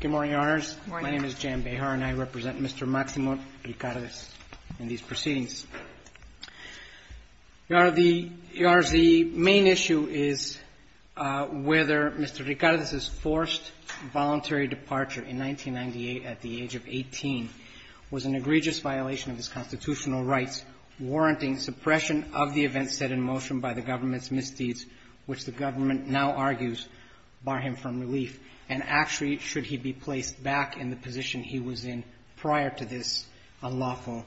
Good morning, Your Honors. My name is Jan Behar, and I represent Mr. Maximo Ricardez in these proceedings. Your Honors, the main issue is whether Mr. Ricardez's forced voluntary departure in 1998 at the age of 18 was an egregious violation of his constitutional rights, warranting suppression of the events set in motion by the government's misdeeds, which the government now argues, bar him from relief, and actually should he be placed back in the position he was in prior to this unlawful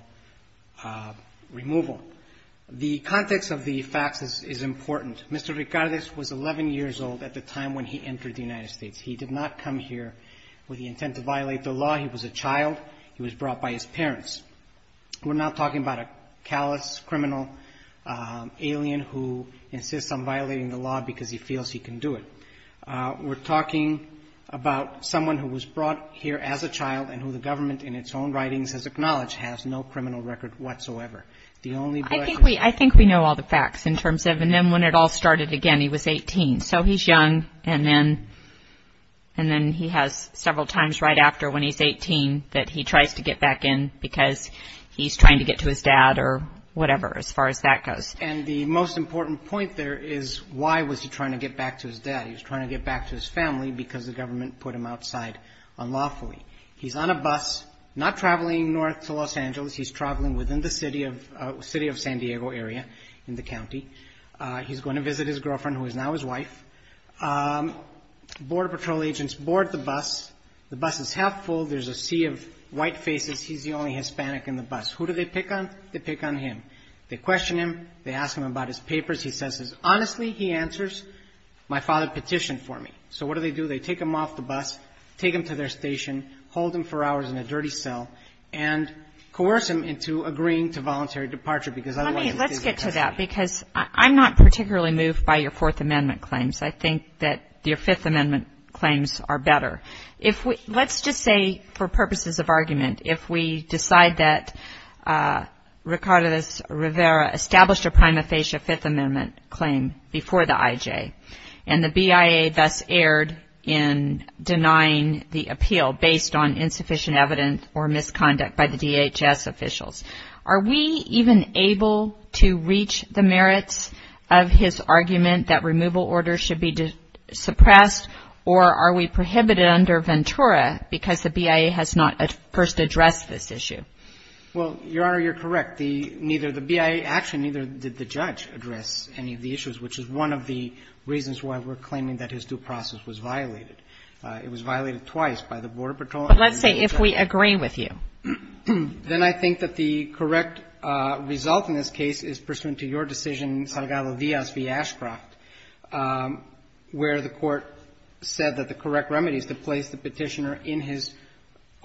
removal. The context of the facts is important. Mr. Ricardez was 11 years old at the time when he entered the United States. He did not come here with the intent to violate the law. He was a child. He was brought by his parents. We're not talking about a callous criminal alien who insists on talking about someone who was brought here as a child and who the government in its own writings has acknowledged has no criminal record whatsoever. The only question is... I think we know all the facts in terms of, and then when it all started again, he was 18. So he's young, and then he has several times right after when he's 18 that he tries to get back in because he's trying to get to his dad or whatever as far as that goes. And the most important point there is why was he trying to get back to his dad? He was trying to get back to his family because the government put him outside unlawfully. He's on a bus, not traveling north to Los Angeles. He's traveling within the city of San Diego area in the county. He's going to visit his girlfriend who is now his wife. Border Patrol agents board the bus. The bus is half full. There's a sea of white faces. He's the only Hispanic in the bus. Who do they pick on? They pick on him. They question him. They ask him about his So what do they do? They take him off the bus, take him to their station, hold him for hours in a dirty cell, and coerce him into agreeing to voluntary departure because otherwise... Let's get to that because I'm not particularly moved by your Fourth Amendment claims. I think that your Fifth Amendment claims are better. Let's just say for purposes of argument, if we decide that Ricardo Rivera established a Fifth Amendment claim before the IJ and the BIA thus erred in denying the appeal based on insufficient evidence or misconduct by the DHS officials, are we even able to reach the merits of his argument that removal orders should be suppressed or are we prohibited under Ventura because the BIA has not first addressed this issue? Well, Your Honor, you're correct. Neither the BIA, actually neither did the judge address any of the issues, which is one of the reasons why we're claiming that his due process was violated. It was violated twice by the Border Patrol and... But let's say if we agree with you. ...then I think that the correct result in this case is pursuant to your decision, Salgado-Diaz v. Ashcroft, where the court said that the correct remedy is to place the Petitioner in his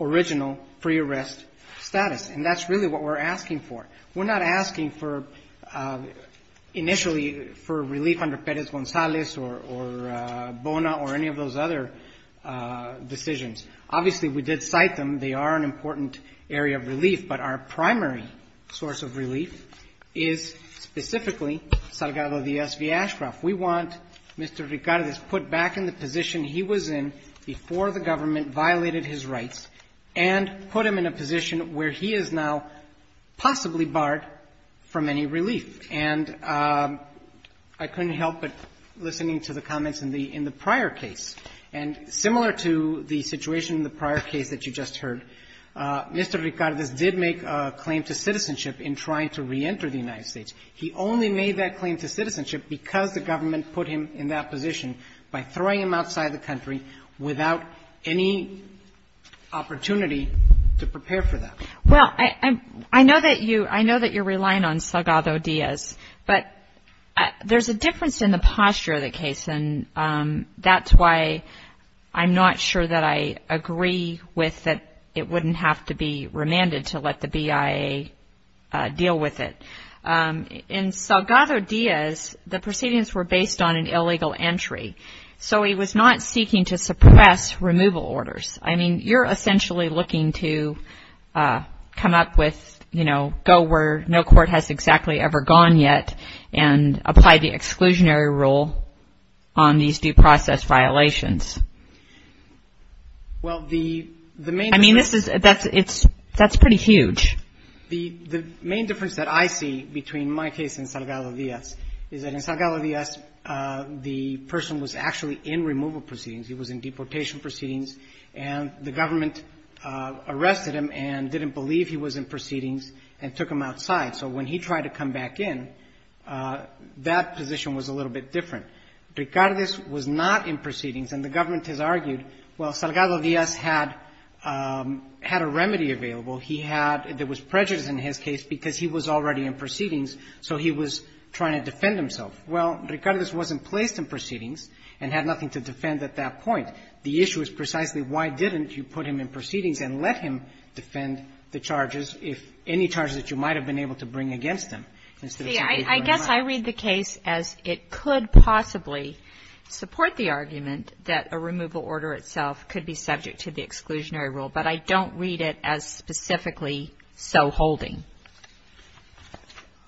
original pre-arrest status. And that's really what we're asking for. We're not asking for, initially, for relief under Perez-Gonzalez or Bona or any of those other decisions. Obviously, we did cite them. They are an important area of relief, but our primary source of relief is specifically Salgado-Diaz v. Ashcroft. We want Mr. Ricardez put back in the position he was in before the government violated his rights and put him in a position where he is now possibly barred from any relief. And I couldn't help but listening to the comments in the prior case. And similar to the situation in the prior case that you just heard, Mr. Ricardez did make a claim to citizenship in trying to reenter the United States. He only made that claim to citizenship because the government put him in that position by throwing him outside the country without any opportunity to prepare for that. Well, I know that you're relying on Salgado-Diaz, but there's a difference in the posture of the case. And that's why I'm not sure that I agree with that it wouldn't have to be remanded to let the BIA deal with it. In Salgado-Diaz, the proceedings were based on an illegal entry. So he was not seeking to suppress removal orders. I mean, you're essentially looking to come up with, you know, go where no court has exactly ever gone yet and apply the exclusionary rule on these due process violations. Well, the main difference I mean, this is, that's pretty huge. The main difference that I see between my case and Salgado-Diaz is that in Salgado-Diaz, the person was actually in removal proceedings. He was in deportation proceedings. And the government arrested him and didn't believe he was in proceedings and took him outside. So when he tried to come back in, that position was a little bit different. Ricardez was not in proceedings. And the government has argued, well, Salgado-Diaz had a remedy available. He had – there was prejudice in his case because he was already in proceedings, so he was trying to defend himself. Well, Ricardez wasn't placed in proceedings and had nothing to defend at that point. The issue is precisely why didn't you put him in proceedings and let him defend the charges, if any charges that you might have been able to bring against him instead of simply running away? I guess I read the case as it could possibly support the argument that a removal order itself could be subject to the exclusionary rule, but I don't read it as specifically so holding.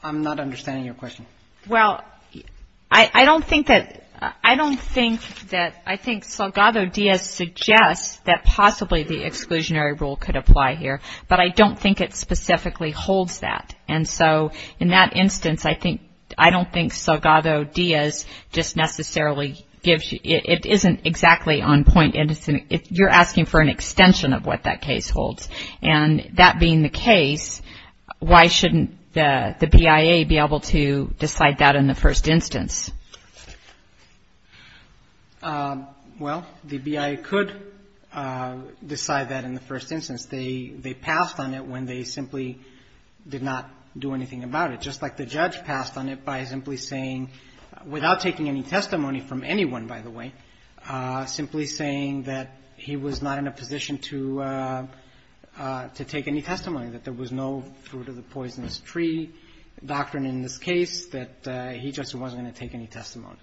I'm not understanding your question. Well, I don't think that – I don't think that – I think Salgado-Diaz suggests that possibly the exclusionary rule could apply here, but I don't think it specifically holds that. And so in that instance, I think – I don't think Salgado-Diaz just necessarily gives – it isn't exactly on point. You're asking for an extension of what that case holds. And that being the case, why shouldn't the BIA be able to decide that in the first instance? Well, the BIA could decide that in the first instance. They passed on it when they simply did not do anything about it, just like the judge passed on it by simply saying – without taking any testimony from anyone, by the way – simply saying that he was not in a position to take any testimony, that there was no fruit-of-the-poisonous-tree doctrine in this case, that he just wasn't going to take any testimony.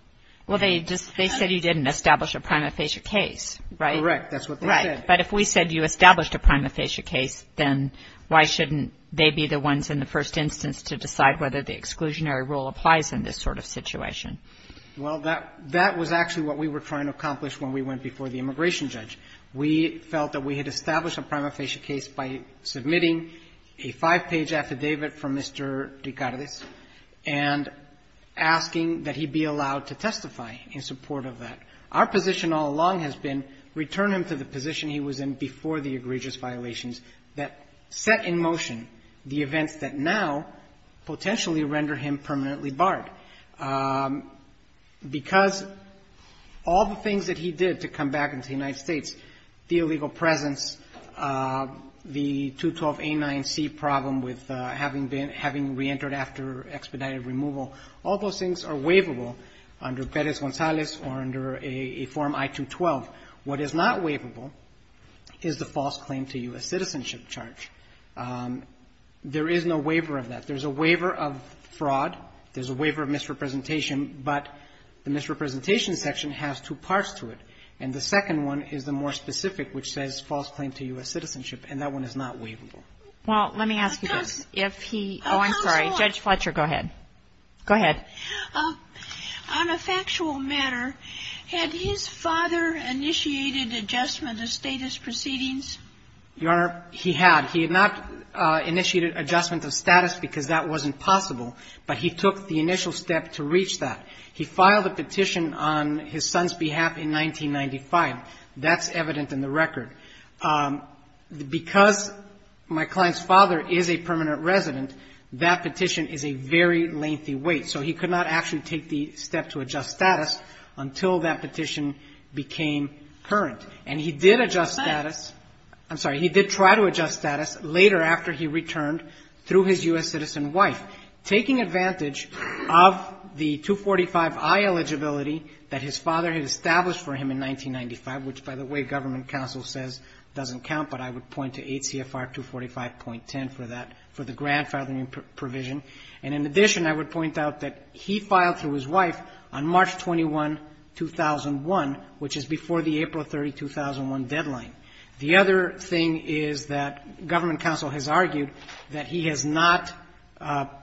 Well, they just – they said you didn't establish a prima facie case, right? Correct. That's what they said. But if we said you established a prima facie case, then why shouldn't they be the ones in the first instance to decide whether the exclusionary rule applies in this sort of situation? Well, that was actually what we were trying to accomplish when we went before the immigration judge. We felt that we had established a prima facie case by submitting a five-page affidavit from Mr. Dicardes and asking that he be allowed to testify in support of that. Our position all along has been, return him to the position he was in before the egregious violations that set in motion the events that now potentially render him permanently barred. Because all the things that he did to come back into the United States, the illegal presence, the 212A9C problem with having been – having reentered after expedited removal, all those things are waivable under Perez-Gonzalez or under a form I-212. What is not waivable is the false claim to U.S. citizenship charge. There is no waiver of that. There's a waiver of fraud. There's a waiver of misrepresentation. But the misrepresentation section has two parts to it. And the second one is the more specific, which says false claim to U.S. citizenship, and that one is not waivable. Well, let me ask you this. If he – oh, I'm sorry. Judge Fletcher, go ahead. Go ahead. On a factual matter, had his father initiated adjustment of status proceedings? Your Honor, he had. He had not initiated adjustment of status because that wasn't possible, but he took the initial step to reach that. He filed a petition on his son's behalf in 1995. That's evident in the record. Because my client's father is a permanent resident, that petition is a very lengthy wait. So he could not actually take the step to adjust status until that petition became current. And he did adjust status – I'm sorry. He did try to adjust status later after he returned through his U.S. citizen wife, taking advantage of the 245i eligibility that his father had established for him in 1995, which by the way, government counsel says doesn't count, but I would point to 8 CFR 245.10 for that, for the grandfathering provision. And in addition, I would point out that he filed through his wife on March 21, 2001, which is before the April 30, 2001, deadline. The other thing is that government counsel has argued that he has not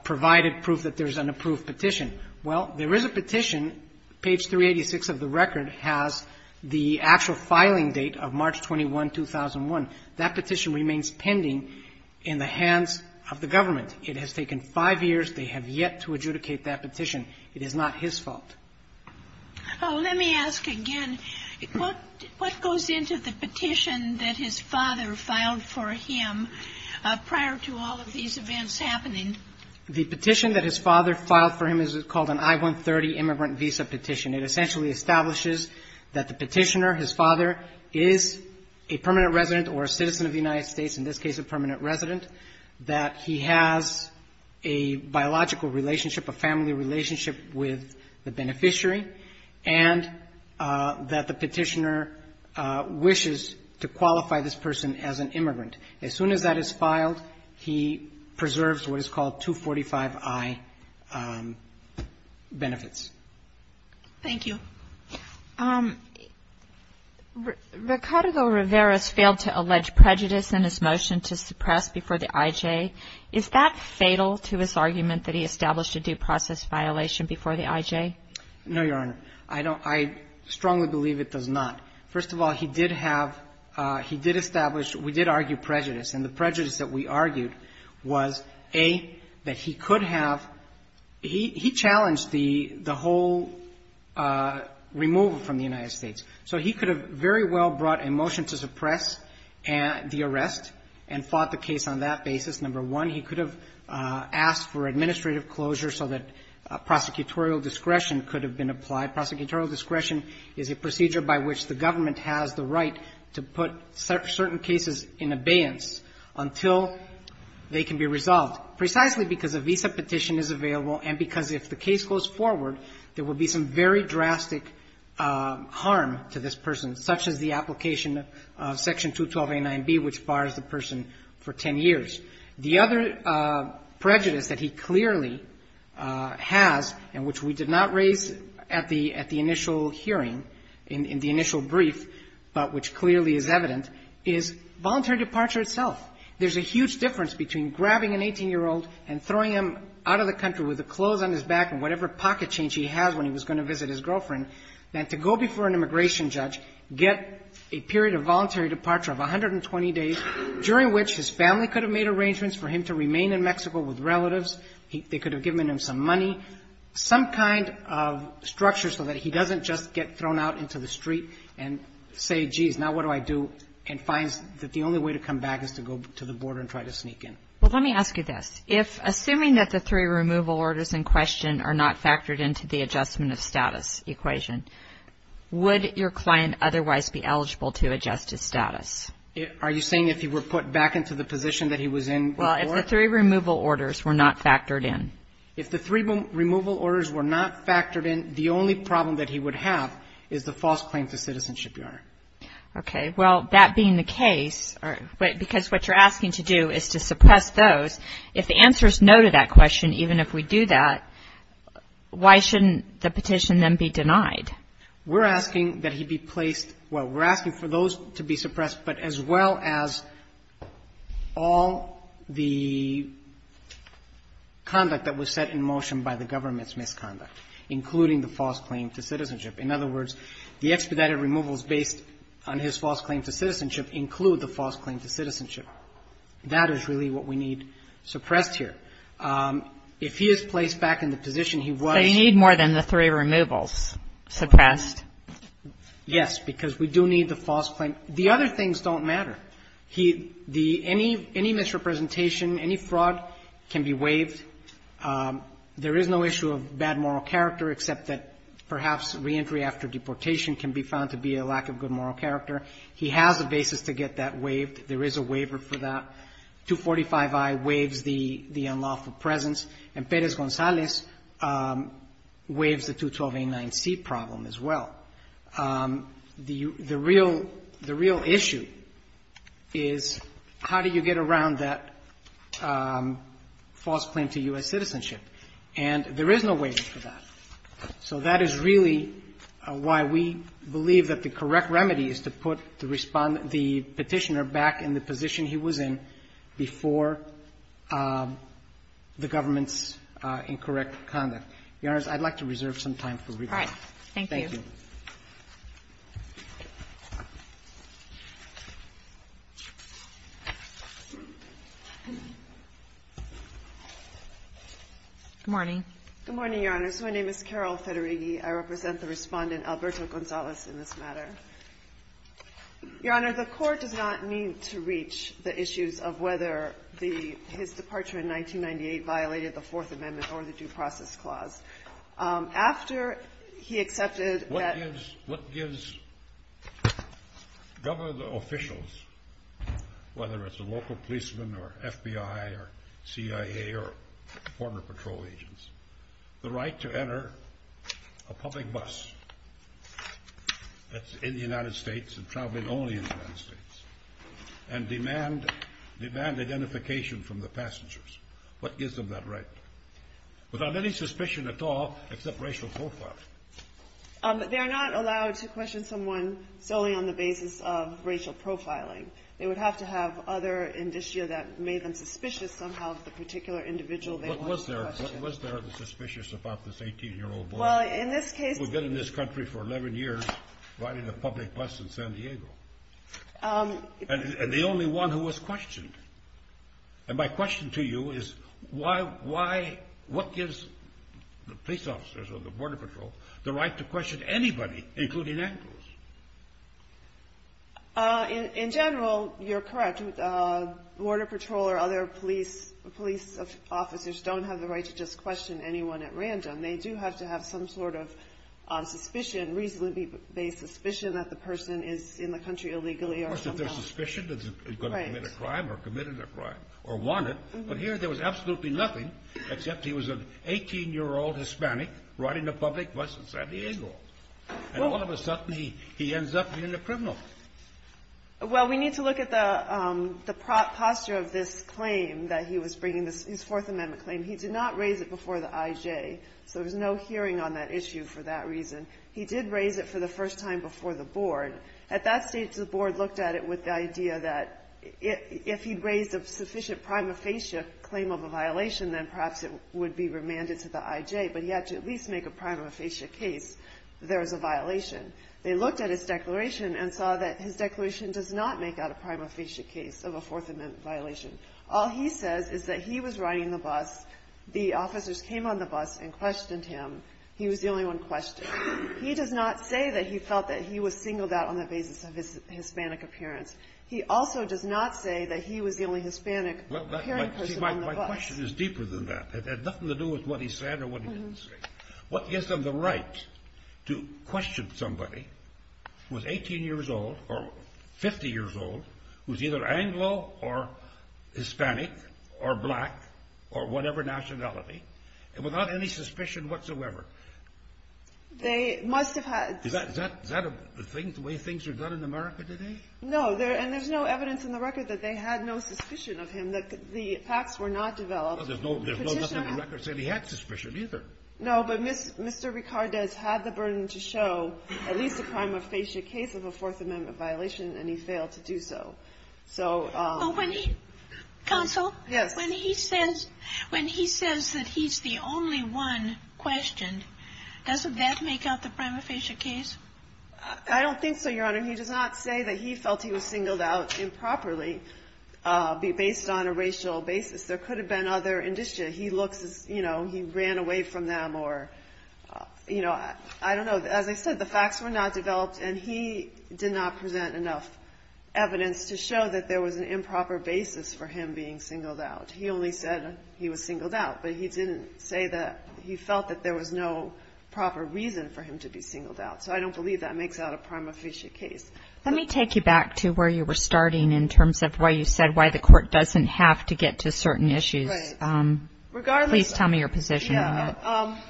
provided proof that there is an approved petition. Well, there is a petition. Page 386 of the record has the actual filing date of March 21, 2001. That petition remains pending in the hands of the government. It has taken five years. They have yet to adjudicate that petition. It is not his fault. Oh, let me ask again. What goes into the petition that his father filed for him prior to all of these events happening? The petition that his father filed for him is called an I-130 immigrant visa petition. It essentially establishes that the petitioner, his father, is a permanent resident or a citizen of the United States, in this case a permanent resident, that he has a biological relationship, a family relationship with the beneficiary, and that the petitioner wishes to qualify this person as an immigrant. As soon as that is filed, he preserves what is a permanent resident. Thank you. Ricardo Rivera has failed to allege prejudice in his motion to suppress before the I.J. Is that fatal to his argument that he established a due process violation before the I.J.? No, Your Honor. I don't – I strongly believe it does not. First of all, he did have – he did establish – we did argue prejudice. And the prejudice that we argued was, A, that he could have – he challenged the whole removal from the United States. So he could have very well brought a motion to suppress the arrest and fought the case on that basis. Number one, he could have asked for administrative closure so that prosecutorial discretion could have been applied. Prosecutorial discretion is a procedure by which the they can be resolved, precisely because a visa petition is available and because if the case goes forward, there will be some very drastic harm to this person, such as the application of Section 212a and 9b, which bars the person for 10 years. The other prejudice that he clearly has and which we did not raise at the – at the initial hearing, in the initial brief, but which clearly is evident, is voluntary departure itself. There's a huge difference between grabbing an 18-year-old and throwing him out of the country with the clothes on his back and whatever pocket change he has when he was going to visit his girlfriend than to go before an immigration judge, get a period of voluntary departure of 120 days, during which his family could have made arrangements for him to remain in Mexico with relatives. They could have given him some money, some kind of structure so that he doesn't just get thrown out into the street and say, geez, now what do I do, and finds that the only way to come back is to go to the border and try to sneak in. Well, let me ask you this. If, assuming that the three removal orders in question are not factored into the adjustment of status equation, would your client otherwise be eligible to adjust his status? Are you saying if he were put back into the position that he was in before? Well, if the three removal orders were not factored in. If the three removal orders were not factored in, the only problem that he would have is the false claim to citizenship, Your Honor. Okay. Well, that being the case, because what you're asking to do is to suppress those, if the answer is no to that question, even if we do that, why shouldn't the petition then be denied? We're asking that he be placed, well, we're asking for those to be suppressed, but as well as all the conduct that was set in motion by the government's misconduct, including the false claim to citizenship, Your Honor. In other words, the expedited removals based on his false claim to citizenship include the false claim to citizenship. That is really what we need suppressed here. If he is placed back in the position he was to be in. So you need more than the three removals suppressed? Yes, because we do need the false claim. The other things don't matter. There is no issue of bad moral character, except that perhaps reentry after deportation can be found to be a lack of good moral character. He has a basis to get that waived. There is a waiver for that. 245I waives the unlawful presence. And Perez-Gonzalez waives the 212A9C problem as well. The real issue is how do you get around that false claim to U.S. citizenship? And there is no waiver for that. So that is really why we believe that the correct remedy is to put the Petitioner back in the position he was in before the government's incorrect conduct. Your Honor, I'd like to reserve some time for rebuttal. All right. Thank you. Good morning. Good morning, Your Honor. So my name is Carol Federighi. I represent the Respondent, Alberto Gonzalez, in this matter. Your Honor, the Court does not need to reach the issues of whether his departure in 1998 violated the Fourth Amendment or the Due Process Clause. After he accepted that- What gives government officials, whether it's a local policeman or FBI or CIA or Border Patrol agents, the right to enter a public bus that's in the United States and traveling only in the United States and demand identification from the passengers? What gives them that right? Without any suspicion at all, except racial profiling. They are not allowed to question someone solely on the basis of racial profiling. They would have to have other indicia that made them suspicious somehow of the particular individual they wanted to question. Was there a suspicious about this 18-year-old boy who had been in this country for 11 years riding a public bus in San Diego? And the only one who was questioned. And my question to you is, what gives the police officers or the Border Patrol the right to question anybody, including animals? In general, you're correct. Border Patrol or other police officers don't have the right to just question anyone at random. They do have to have some sort of suspicion, reasonably based suspicion, that the person is in the country illegally. Of course, if there's suspicion that he's going to commit a crime or committed a crime or wanted. But here, there was absolutely nothing, except he was an 18-year-old Hispanic riding a public bus in San Diego. And all of a sudden, he ends up being a criminal. Well, we need to look at the posture of this claim that he was bringing, his Fourth Amendment claim. He did not raise it before the IJ, so there was no hearing on that issue for that reason. He did raise it for the first time before the board. At that stage, the board looked at it with the idea that if he'd raised a sufficient prima facie claim of a violation, then perhaps it would be remanded to the IJ. But he had to at least make a prima facie case that there was a violation. They looked at his declaration and saw that his declaration does not make out a prima facie case of a Fourth Amendment violation. All he says is that he was riding the bus, the officers came on the bus and questioned him. He was the only one questioned. He does not say that he felt that he was singled out on the basis of his Hispanic appearance. He also does not say that he was the only Hispanic-appearing person on the bus. My question is deeper than that. It had nothing to do with what he said or what he didn't say. What gives them the right to question somebody who was 18 years old or 50 years old, who's either Anglo or Hispanic or black or whatever nationality, without any suspicion whatsoever? They must have had to. Is that a thing, the way things are done in America today? No. And there's no evidence in the record that they had no suspicion of him. The facts were not developed. There's nothing in the record saying he had suspicion either. No. But Mr. Ricardez had the burden to show at least a prima facie case of a Fourth Amendment violation, and he failed to do so. Counsel? Yes. When he says that he's the only one questioned, doesn't that make up the prima facie case? I don't think so, Your Honor. He does not say that he felt he was singled out improperly based on a racial basis. There could have been other indicia. He looks as if he ran away from them or, you know, I don't know. As I said, the facts were not developed, and he did not present enough evidence to show that there was an improper basis for him being singled out. He only said he was singled out, but he didn't say that he felt that there was no proper reason for him to be singled out. So I don't believe that makes out a prima facie case. Let me take you back to where you were starting in terms of why you said why the court doesn't have to get to certain issues. Right. Please tell me your position on that.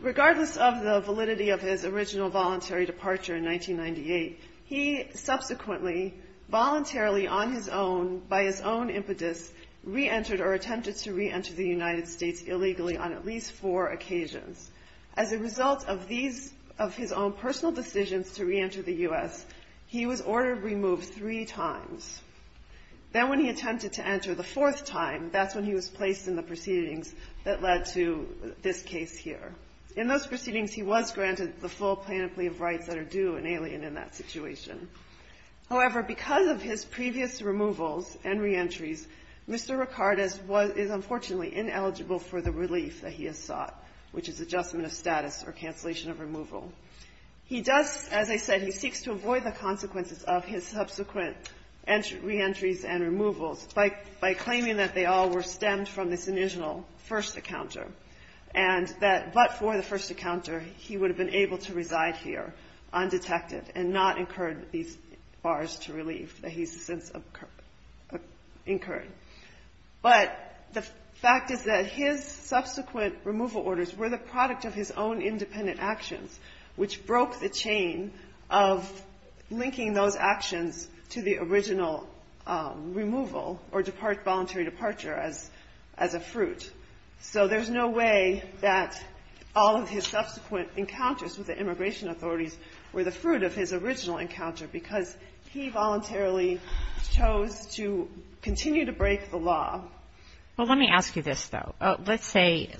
Regardless of the validity of his original voluntary departure in 1998, he subsequently voluntarily on his own, by his own impetus, reentered or attempted to reenter the United States illegally on at least four occasions. As a result of his own personal decisions to reenter the U.S., he was ordered removed three times. Then when he attempted to enter the fourth time, that's when he was placed in the proceedings that led to this case here. In those proceedings, he was granted the full plenipotentiary rights that are due and alien in that situation. However, because of his previous removals and reentries, Mr. Ricard is unfortunately ineligible for the relief that he has sought, which is adjustment of status or cancellation of removal. He does, as I said, he seeks to avoid the consequences of his subsequent reentries and removals by claiming that they all were stemmed from this initial first encounter. But for the first encounter, he would have been able to reside here undetected and not incurred these bars to relief that he's since incurred. But the fact is that his subsequent removal orders were the product of his own independent actions, which broke the chain of linking those actions to the original removal or voluntary departure as a fruit. So there's no way that all of his subsequent encounters with the immigration authorities were the fruit of his original encounter because he voluntarily chose to continue to break the law. Well, let me ask you this, though. Let's say,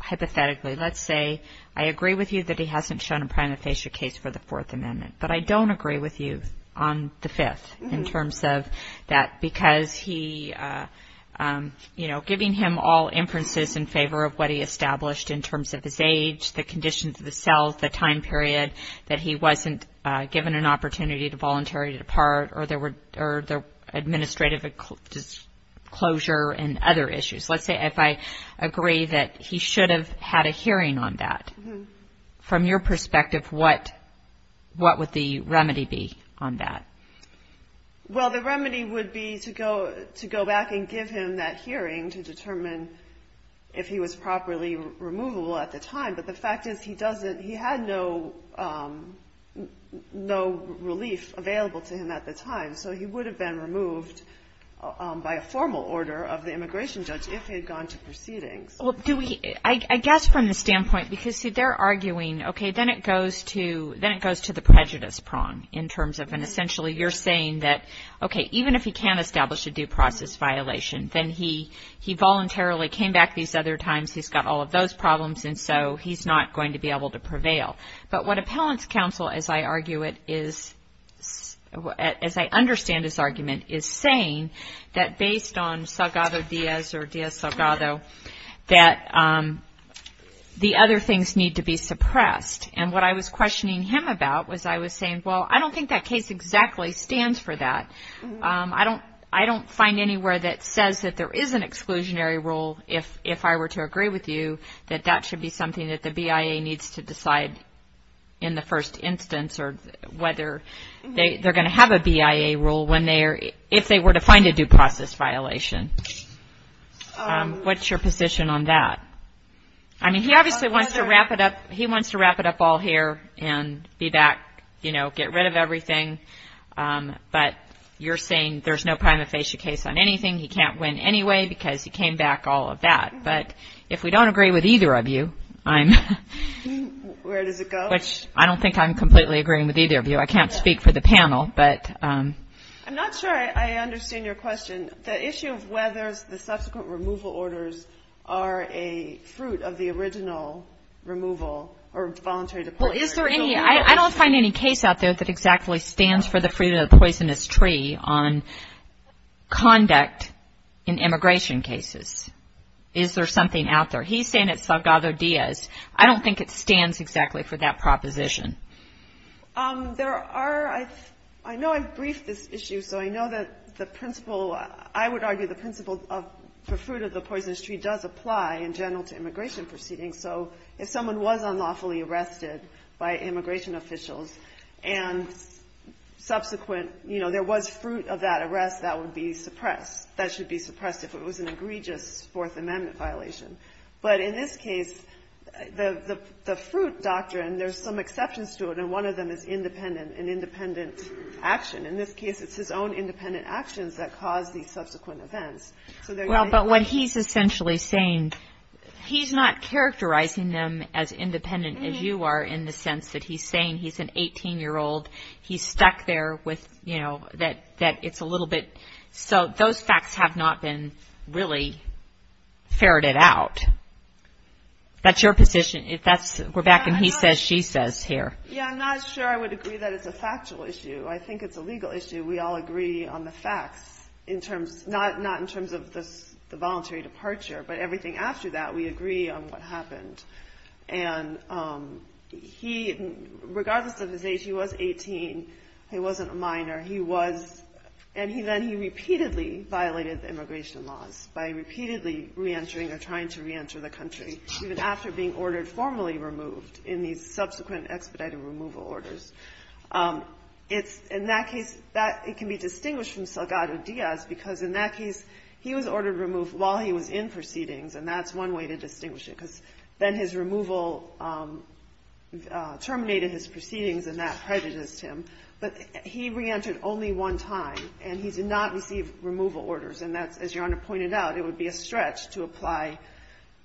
hypothetically, let's say I agree with you that he hasn't shown a prima facie case for the Fourth Amendment, but I don't agree with you on the Fifth in terms of that, because he, you know, giving him all inferences in favor of what he established in terms of his age, the conditions of the cells, the time period, that he wasn't given an opportunity to voluntarily depart or there were administrative disclosure and other issues. Let's say if I agree that he should have had a hearing on that. From your perspective, what would the remedy be on that? Well, the remedy would be to go back and give him that hearing to determine if he was properly removable at the time. But the fact is he had no relief available to him at the time, so he would have been removed by a formal order of the immigration judge if he had gone to proceedings. I guess from the standpoint, because, see, they're arguing, okay, then it goes to the prejudice prong in terms of, and essentially you're saying that, okay, even if he can establish a due process violation, then he voluntarily came back these other times, he's got all of those problems, and so he's not going to be able to prevail. But what appellant's counsel, as I argue it, as I understand his argument, is saying that based on Salgado Diaz or Diaz-Salgado, that the other things need to be suppressed. And what I was questioning him about was I was saying, well, I don't think that case exactly stands for that. I don't find anywhere that says that there is an exclusionary rule, if I were to agree with you, that that should be something that the BIA needs to decide in the first instance or whether they're going to have a BIA rule when they are, if they were to find a due process violation. What's your position on that? I mean, he obviously wants to wrap it up, he wants to wrap it up all here and be back, you know, get rid of everything. But you're saying there's no prima facie case on anything, he can't win anyway because he came back, all of that. But if we don't agree with either of you, I'm. Where does it go? Which I don't think I'm completely agreeing with either of you. I can't speak for the panel, but. I'm not sure I understand your question. The issue of whether the subsequent removal orders are a fruit of the original removal or voluntary departure. Well, is there any, I don't find any case out there that exactly stands for the freedom of the poisonous tree on conduct in immigration cases. Is there something out there? He's saying it's Salgado-Diaz. I don't think it stands exactly for that proposition. There are, I know I've briefed this issue, so I know that the principle, I would argue the principle for fruit of the poisonous tree does apply in general to immigration proceedings. So if someone was unlawfully arrested by immigration officials and subsequent, you know, there was fruit of that arrest, that would be suppressed. That should be suppressed if it was an egregious Fourth Amendment violation. But in this case, the fruit doctrine, there's some exceptions to it, and one of them is independent, an independent action. In this case, it's his own independent actions that caused these subsequent events. Well, but what he's essentially saying, he's not characterizing them as independent as you are in the sense that he's saying he's an 18-year-old, he's stuck there with, you know, that it's a little bit, so those facts have not been really ferreted out. That's your position? If that's, we're back in he says, she says here. Yeah, I'm not sure I would agree that it's a factual issue. I think it's a legal issue. We all agree on the facts in terms, not in terms of the voluntary departure, but everything after that, we agree on what happened. And he, regardless of his age, he was 18. He wasn't a minor. He was, and then he repeatedly violated immigration laws by repeatedly reentering or trying to reenter the country, even after being ordered formally removed in these subsequent expedited removal orders. It's, in that case, it can be distinguished from Salgado Diaz because in that case, he was ordered removed while he was in proceedings, and that's one way to distinguish it, because then his removal terminated his proceedings, and that prejudiced him. But he reentered only one time, and he did not receive removal orders, and that's, as Your Honor pointed out, it would be a stretch to apply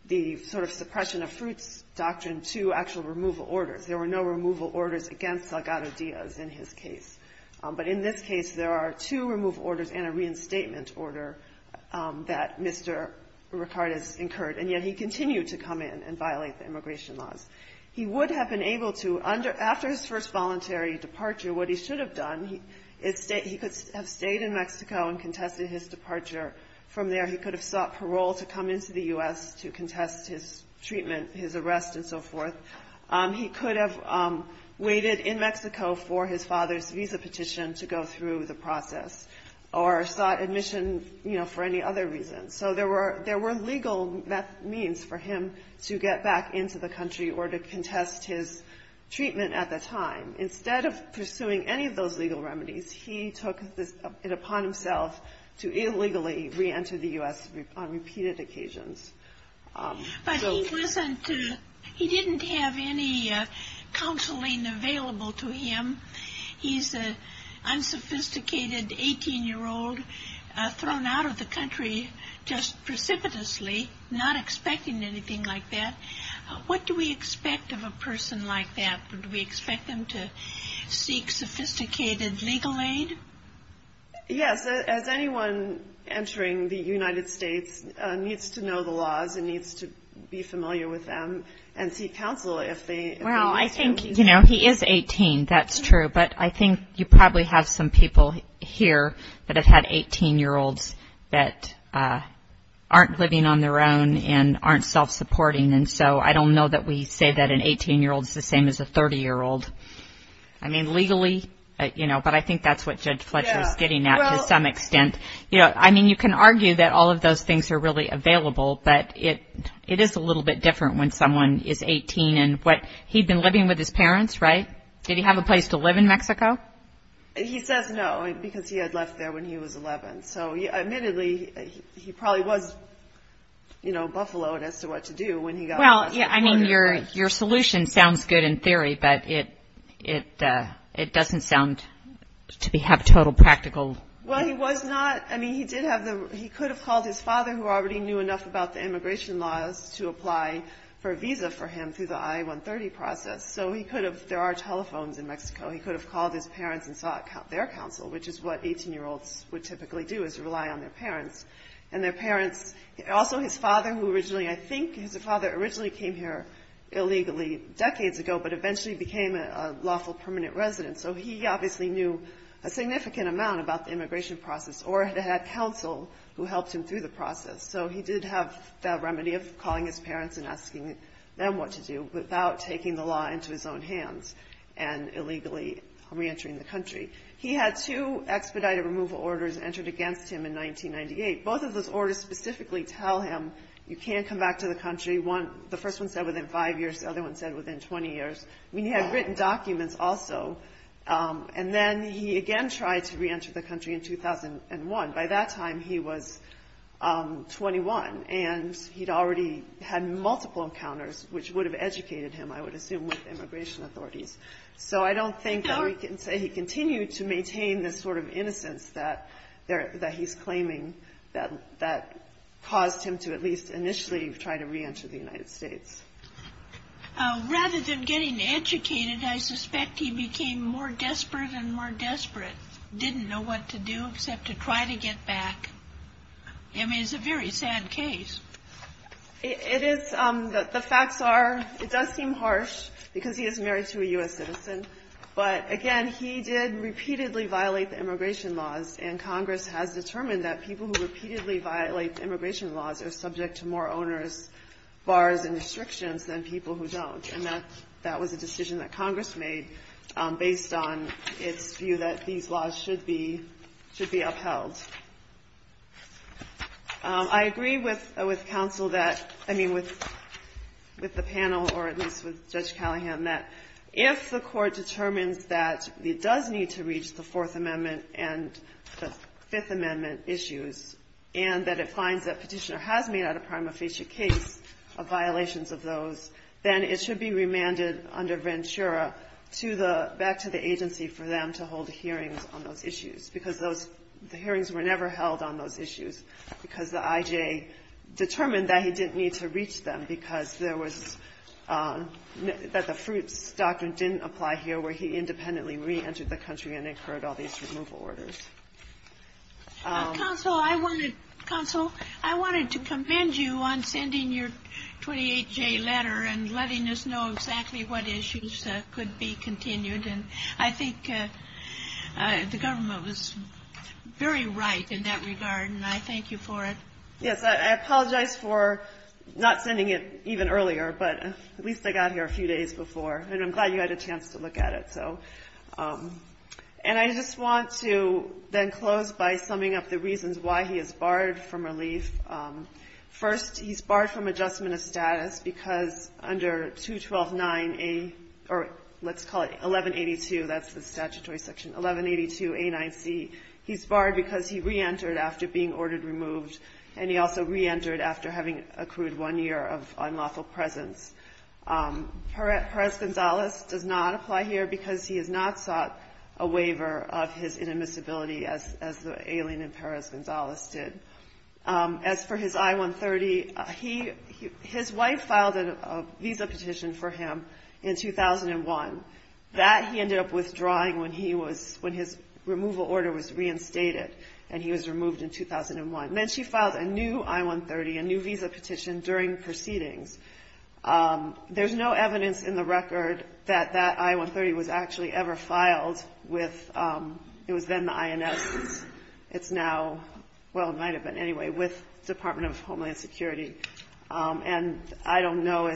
the sort of suppression of fruits doctrine to actual removal orders. There were no removal orders against Salgado Diaz in his case. But in this case, there are two removal orders and a reinstatement order that Mr. Ricard has incurred, and yet he continued to come in and violate the immigration laws. He would have been able to, after his first voluntary departure, what he should have done, he could have stayed in Mexico and contested his departure. From there, he could have sought parole to come into the U.S. to contest his treatment, his arrest, and so forth. He could have waited in Mexico for his father's visa petition to go through the process or sought admission, you know, for any other reason. So there were legal means for him to get back into the country or to contest his treatment at the time. Instead of pursuing any of those legal remedies, he took it upon himself to illegally reenter the U.S. on repeated occasions. But he wasn't, he didn't have any counseling available to him. He's an unsophisticated 18-year-old thrown out of the country just precipitously, not expecting anything like that. What do we expect of a person like that? Do we expect them to seek sophisticated legal aid? Yes. As anyone entering the United States needs to know the laws and needs to be familiar with them and seek counsel. Well, I think, you know, he is 18. That's true. But I think you probably have some people here that have had 18-year-olds that aren't living on their own and aren't self-supporting. And so I don't know that we say that an 18-year-old is the same as a 30-year-old. I mean, legally, you know, but I think that's what Judge Fletcher is getting at to some extent. I mean, you can argue that all of those things are really available, but it is a little bit different when someone is 18. And he'd been living with his parents, right? Did he have a place to live in Mexico? He says no because he had left there when he was 11. So, admittedly, he probably was, you know, buffaloed as to what to do when he got to Mexico. Well, I mean, your solution sounds good in theory, but it doesn't sound to have total practical. Well, he was not. I mean, he could have called his father, who already knew enough about the immigration laws to apply for a visa for him through the I-130 process. So he could have. There are telephones in Mexico. He could have called his parents and sought their counsel, which is what 18-year-olds would typically do is rely on their parents. And their parents, also his father, who originally, I think, his father originally came here illegally decades ago, but eventually became a lawful permanent resident. So he obviously knew a significant amount about the immigration process or had counsel who helped him through the process. So he did have that remedy of calling his parents and asking them what to do without taking the law into his own hands and illegally reentering the country. He had two expedited removal orders entered against him in 1998. Both of those orders specifically tell him you can't come back to the country. The first one said within five years. The other one said within 20 years. I mean, he had written documents also. And then he again tried to reenter the country in 2001. By that time, he was 21, and he'd already had multiple encounters, which would have educated him, I would assume, with immigration authorities. So I don't think that we can say he continued to maintain this sort of innocence that he's claiming that caused him to at least initially try to reenter the United States. Rather than getting educated, I suspect he became more desperate and more desperate. Didn't know what to do except to try to get back. I mean, it's a very sad case. It is. The facts are it does seem harsh because he is married to a U.S. citizen. But again, he did repeatedly violate the immigration laws, and Congress has determined that people who repeatedly violate immigration laws are subject to more onerous bars and restrictions than people who don't. And that was a decision that Congress made based on its view that these laws should be upheld. I agree with counsel that – I mean, with the panel or at least with Judge Callahan that if the Court determines that it does need to reach the Fourth Amendment and the Fifth Amendment issues and that it finds that Petitioner has made out a prima facie case of violations of those, then it should be remanded under Ventura back to the agency for them to hold hearings on those issues because the hearings were never held on those issues because the I.J. determined that he didn't need to reach them because there was – that the fruits doctrine didn't apply here where he independently reentered the country and incurred all these removal orders. Counsel, I wanted to commend you on sending your 28-J letter and letting us know exactly what issues could be continued. And I think the government was very right in that regard, and I thank you for it. Yes, I apologize for not sending it even earlier, but at least I got here a few days before. And I'm glad you had a chance to look at it, so. And I just want to then close by summing up the reasons why he is barred from relief. First, he's barred from adjustment of status because under 212.9a – or let's call it 1182. That's the statutory section, 1182a9c. He's barred because he reentered after being ordered removed, and he also reentered after having accrued one year of unlawful presence. Perez-Gonzalez does not apply here because he has not sought a waiver of his inadmissibility as the alien in Perez-Gonzalez did. As for his I-130, his wife filed a visa petition for him in 2001. That he ended up withdrawing when his removal order was reinstated, and he was removed in 2001. Then she filed a new I-130, a new visa petition during proceedings. There's no evidence in the record that that I-130 was actually ever filed with – it was then the INS. It's now – well, it might have been anyway – with Department of Homeland Security. And I don't know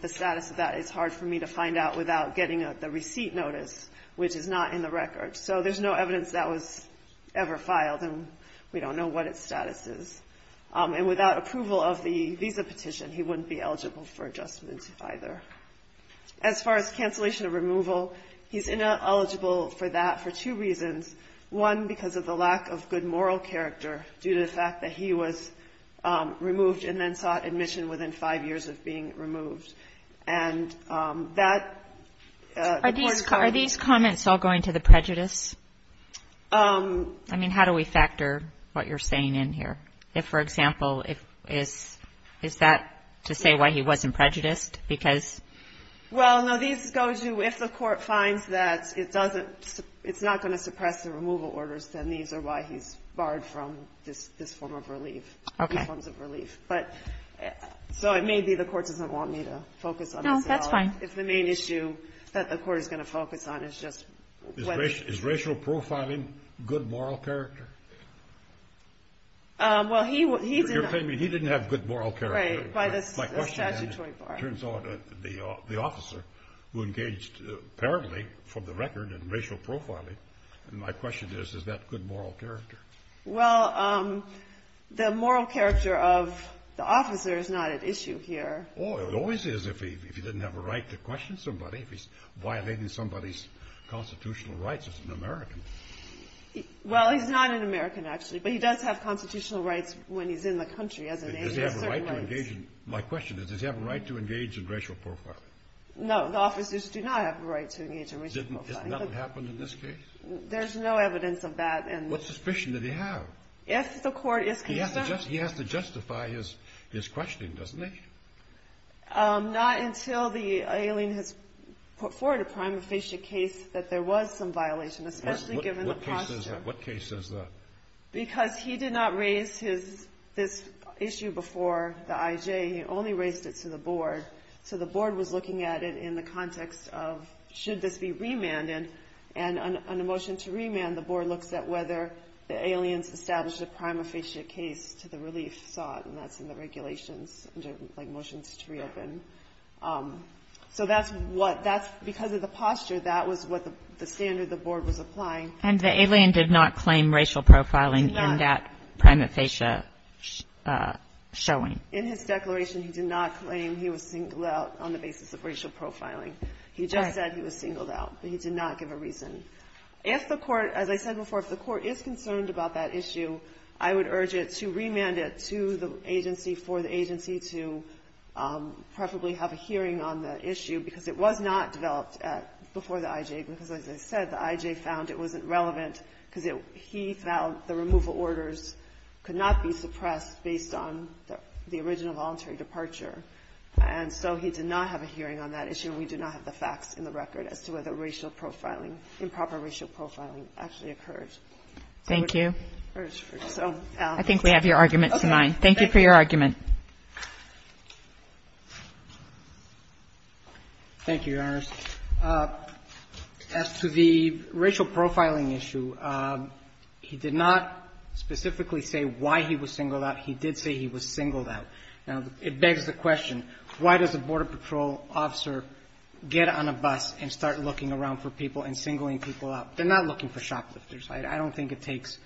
the status of that. It's hard for me to find out without getting the receipt notice, which is not in the record. So there's no evidence that was ever filed, and we don't know what its status is. And without approval of the visa petition, he wouldn't be eligible for adjustment either. As far as cancellation of removal, he's ineligible for that for two reasons. One, because of the lack of good moral character due to the fact that he was removed and then sought admission within five years of being removed. And that – Are these comments all going to the prejudice? I mean, how do we factor what you're saying in here? If, for example, if – is that to say why he wasn't prejudiced? Because – Well, no. These go to if the court finds that it doesn't – it's not going to suppress the removal orders, then these are why he's barred from this form of relief. Okay. But – so it may be the court doesn't want me to focus on this at all. No, that's fine. If the main issue that the court is going to focus on is just whether – Is racial profiling good moral character? Well, he didn't – You're claiming he didn't have good moral character. Right, by the statutory bar. My question is, it turns out the officer who engaged apparently from the record in racial profiling, and my question is, is that good moral character? Well, the moral character of the officer is not at issue here. Oh, it always is if he didn't have a right to question somebody, if he's violating somebody's constitutional rights as an American. Well, he's not an American, actually, but he does have constitutional rights when he's in the country as an agent of certain rights. Does he have a right to engage in – my question is, does he have a right to engage in racial profiling? No, the officers do not have a right to engage in racial profiling. Isn't that what happened in this case? There's no evidence of that. What suspicion did he have? If the court is concerned – He has to justify his questioning, doesn't he? Not until the alien has put forward a prima facie case that there was some violation, especially given the posture. What case is that? Because he did not raise this issue before the IJ, he only raised it to the board, so the board was looking at it in the context of should this be remanded, and on a motion to remand, the board looks at whether the alien's established a prima facie case to the relief side, and that's in the regulations, motions to reopen. So that's what – because of the posture, that was what the standard the board was applying. And the alien did not claim racial profiling in that prima facie showing? In his declaration, he did not claim he was singled out on the basis of racial profiling. He just said he was singled out, but he did not give a reason. If the court – as I said before, if the court is concerned about that issue, I would urge it to remand it to the agency for the agency to preferably have a hearing on the issue, because it was not developed before the IJ, because as I said, the IJ found it wasn't relevant because he felt the removal orders could not be suppressed based on the original voluntary departure. And so he did not have a hearing on that issue, and we do not have the facts in the record as to whether racial profiling, improper racial profiling actually occurred. Thank you. I think we have your arguments in mind. Thank you for your argument. Thank you, Your Honors. As to the racial profiling issue, he did not specifically say why he was singled out. He did say he was singled out. Now, it begs the question, why does a Border Patrol officer get on a bus and start looking around for people and singling people out? They're not looking for shoplifters. I don't think it takes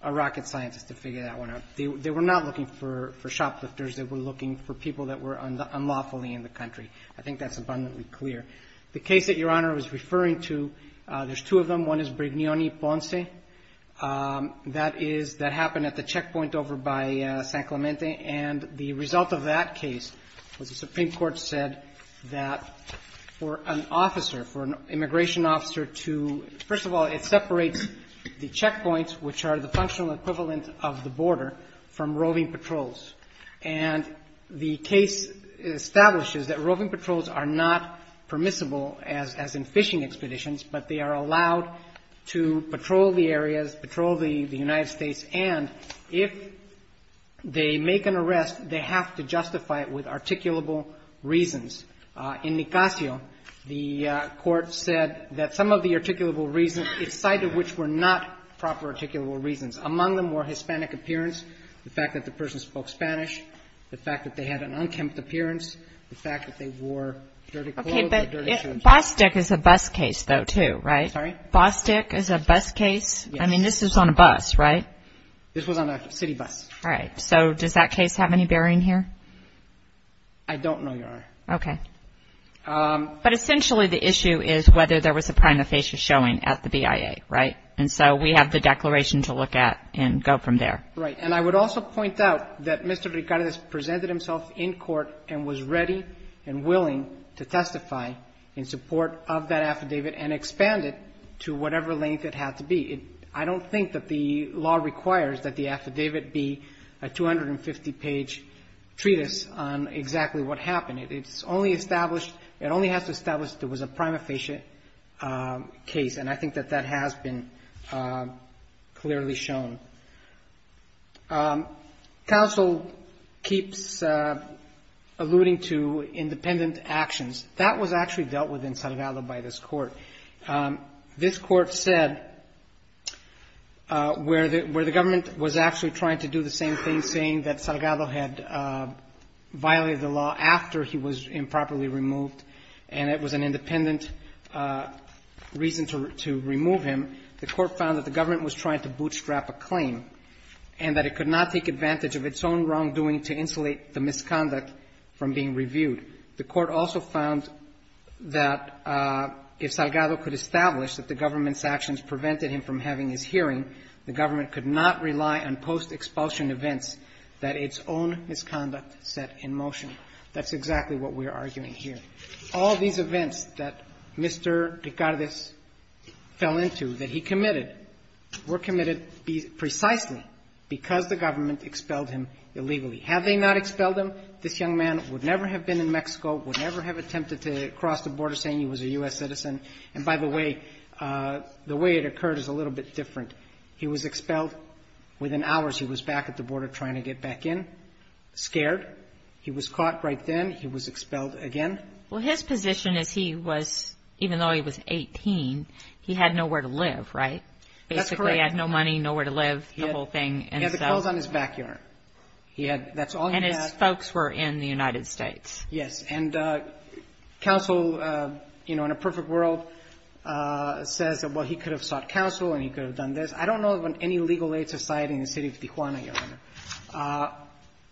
a rocket scientist to figure that one out. They were not looking for shoplifters. They were looking for people that were unlawfully in the country. I think that's abundantly clear. The case that Your Honor was referring to, there's two of them. One is Bregnione Ponce. That happened at the checkpoint over by San Clemente, and the result of that case was the Supreme Court said that for an immigration officer to – first of all, it separates the checkpoints, which are the functional equivalent of the border, from roving patrols. And the case establishes that roving patrols are not permissible, as in fishing expeditions, but they are allowed to patrol the areas, patrol the United States, and if they make an arrest, they have to justify it with articulable reasons. In Nicacio, the Court said that some of the articulable reasons, the site of which were not proper articulable reasons. Among them were Hispanic appearance, the fact that the person spoke Spanish, the fact that they had an unkempt appearance, the fact that they wore dirty clothes or dirty shoes. Bostic is a bus case, though, too, right? Sorry? Bostic is a bus case? Yes. I mean, this was on a bus, right? This was on a city bus. All right. So does that case have any bearing here? I don't know, Your Honor. Okay. But essentially the issue is whether there was a prima facie showing at the BIA, right? And so we have the declaration to look at and go from there. Right. And I would also point out that Mr. Ricardez presented himself in court and was ready and willing to testify in support of that affidavit and expand it to whatever length it had to be. I don't think that the law requires that the affidavit be a 250-page treatise on exactly what happened. It only has to establish that it was a prima facie case, and I think that that has been clearly shown. Counsel keeps alluding to independent actions. That was actually dealt with in Salgado by this Court. This Court said where the government was actually trying to do the same thing, saying that Salgado had violated the law after he was improperly removed, and it was an independent reason to remove him, the Court found that the government was trying to bootstrap a client. And that it could not take advantage of its own wrongdoing to insulate the misconduct from being reviewed. The Court also found that if Salgado could establish that the government's actions prevented him from having his hearing, the government could not rely on post-expulsion events that its own misconduct set in motion. That's exactly what we're arguing here. All these events that Mr. Ricardez fell into, that he committed, were committed precisely because the government expelled him illegally. Had they not expelled him, this young man would never have been in Mexico, would never have attempted to cross the border saying he was a U.S. citizen. And by the way, the way it occurred is a little bit different. He was expelled. Within hours, he was back at the border trying to get back in, scared. He was caught right then. He was expelled again. Well, his position is he was, even though he was 18, he had nowhere to live, right? That's correct. Basically, he had no money, nowhere to live, the whole thing. He had the clothes on his backyard. He had, that's all he had. And his folks were in the United States. Yes. And counsel, you know, in a perfect world says, well, he could have sought counsel and he could have done this. I don't know of any legal aid society in the city of Tijuana, Your Honor.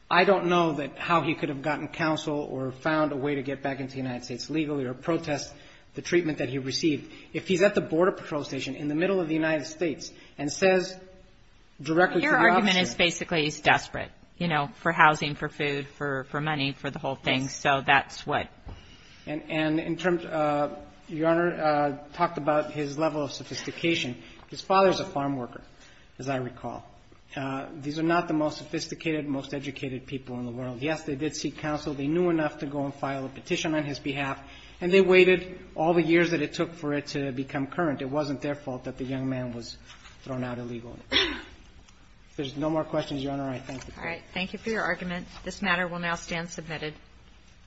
I don't know that how he could have gotten counsel or found a way to get back into the United States legally or protest the treatment that he received. If he's at the border patrol station in the middle of the United States and says directly to the officer. Your argument is basically he's desperate, you know, for housing, for food, for money, for the whole thing. Yes. So that's what. And in terms, Your Honor, talked about his level of sophistication. His father is a farm worker, as I recall. These are not the most sophisticated, most educated people in the world. Yes, they did seek counsel. They knew enough to go and file a petition on his behalf. And they waited all the years that it took for it to become current. It wasn't their fault that the young man was thrown out illegally. If there's no more questions, Your Honor, I thank you. All right. Thank you for your argument. This matter will now stand submitted.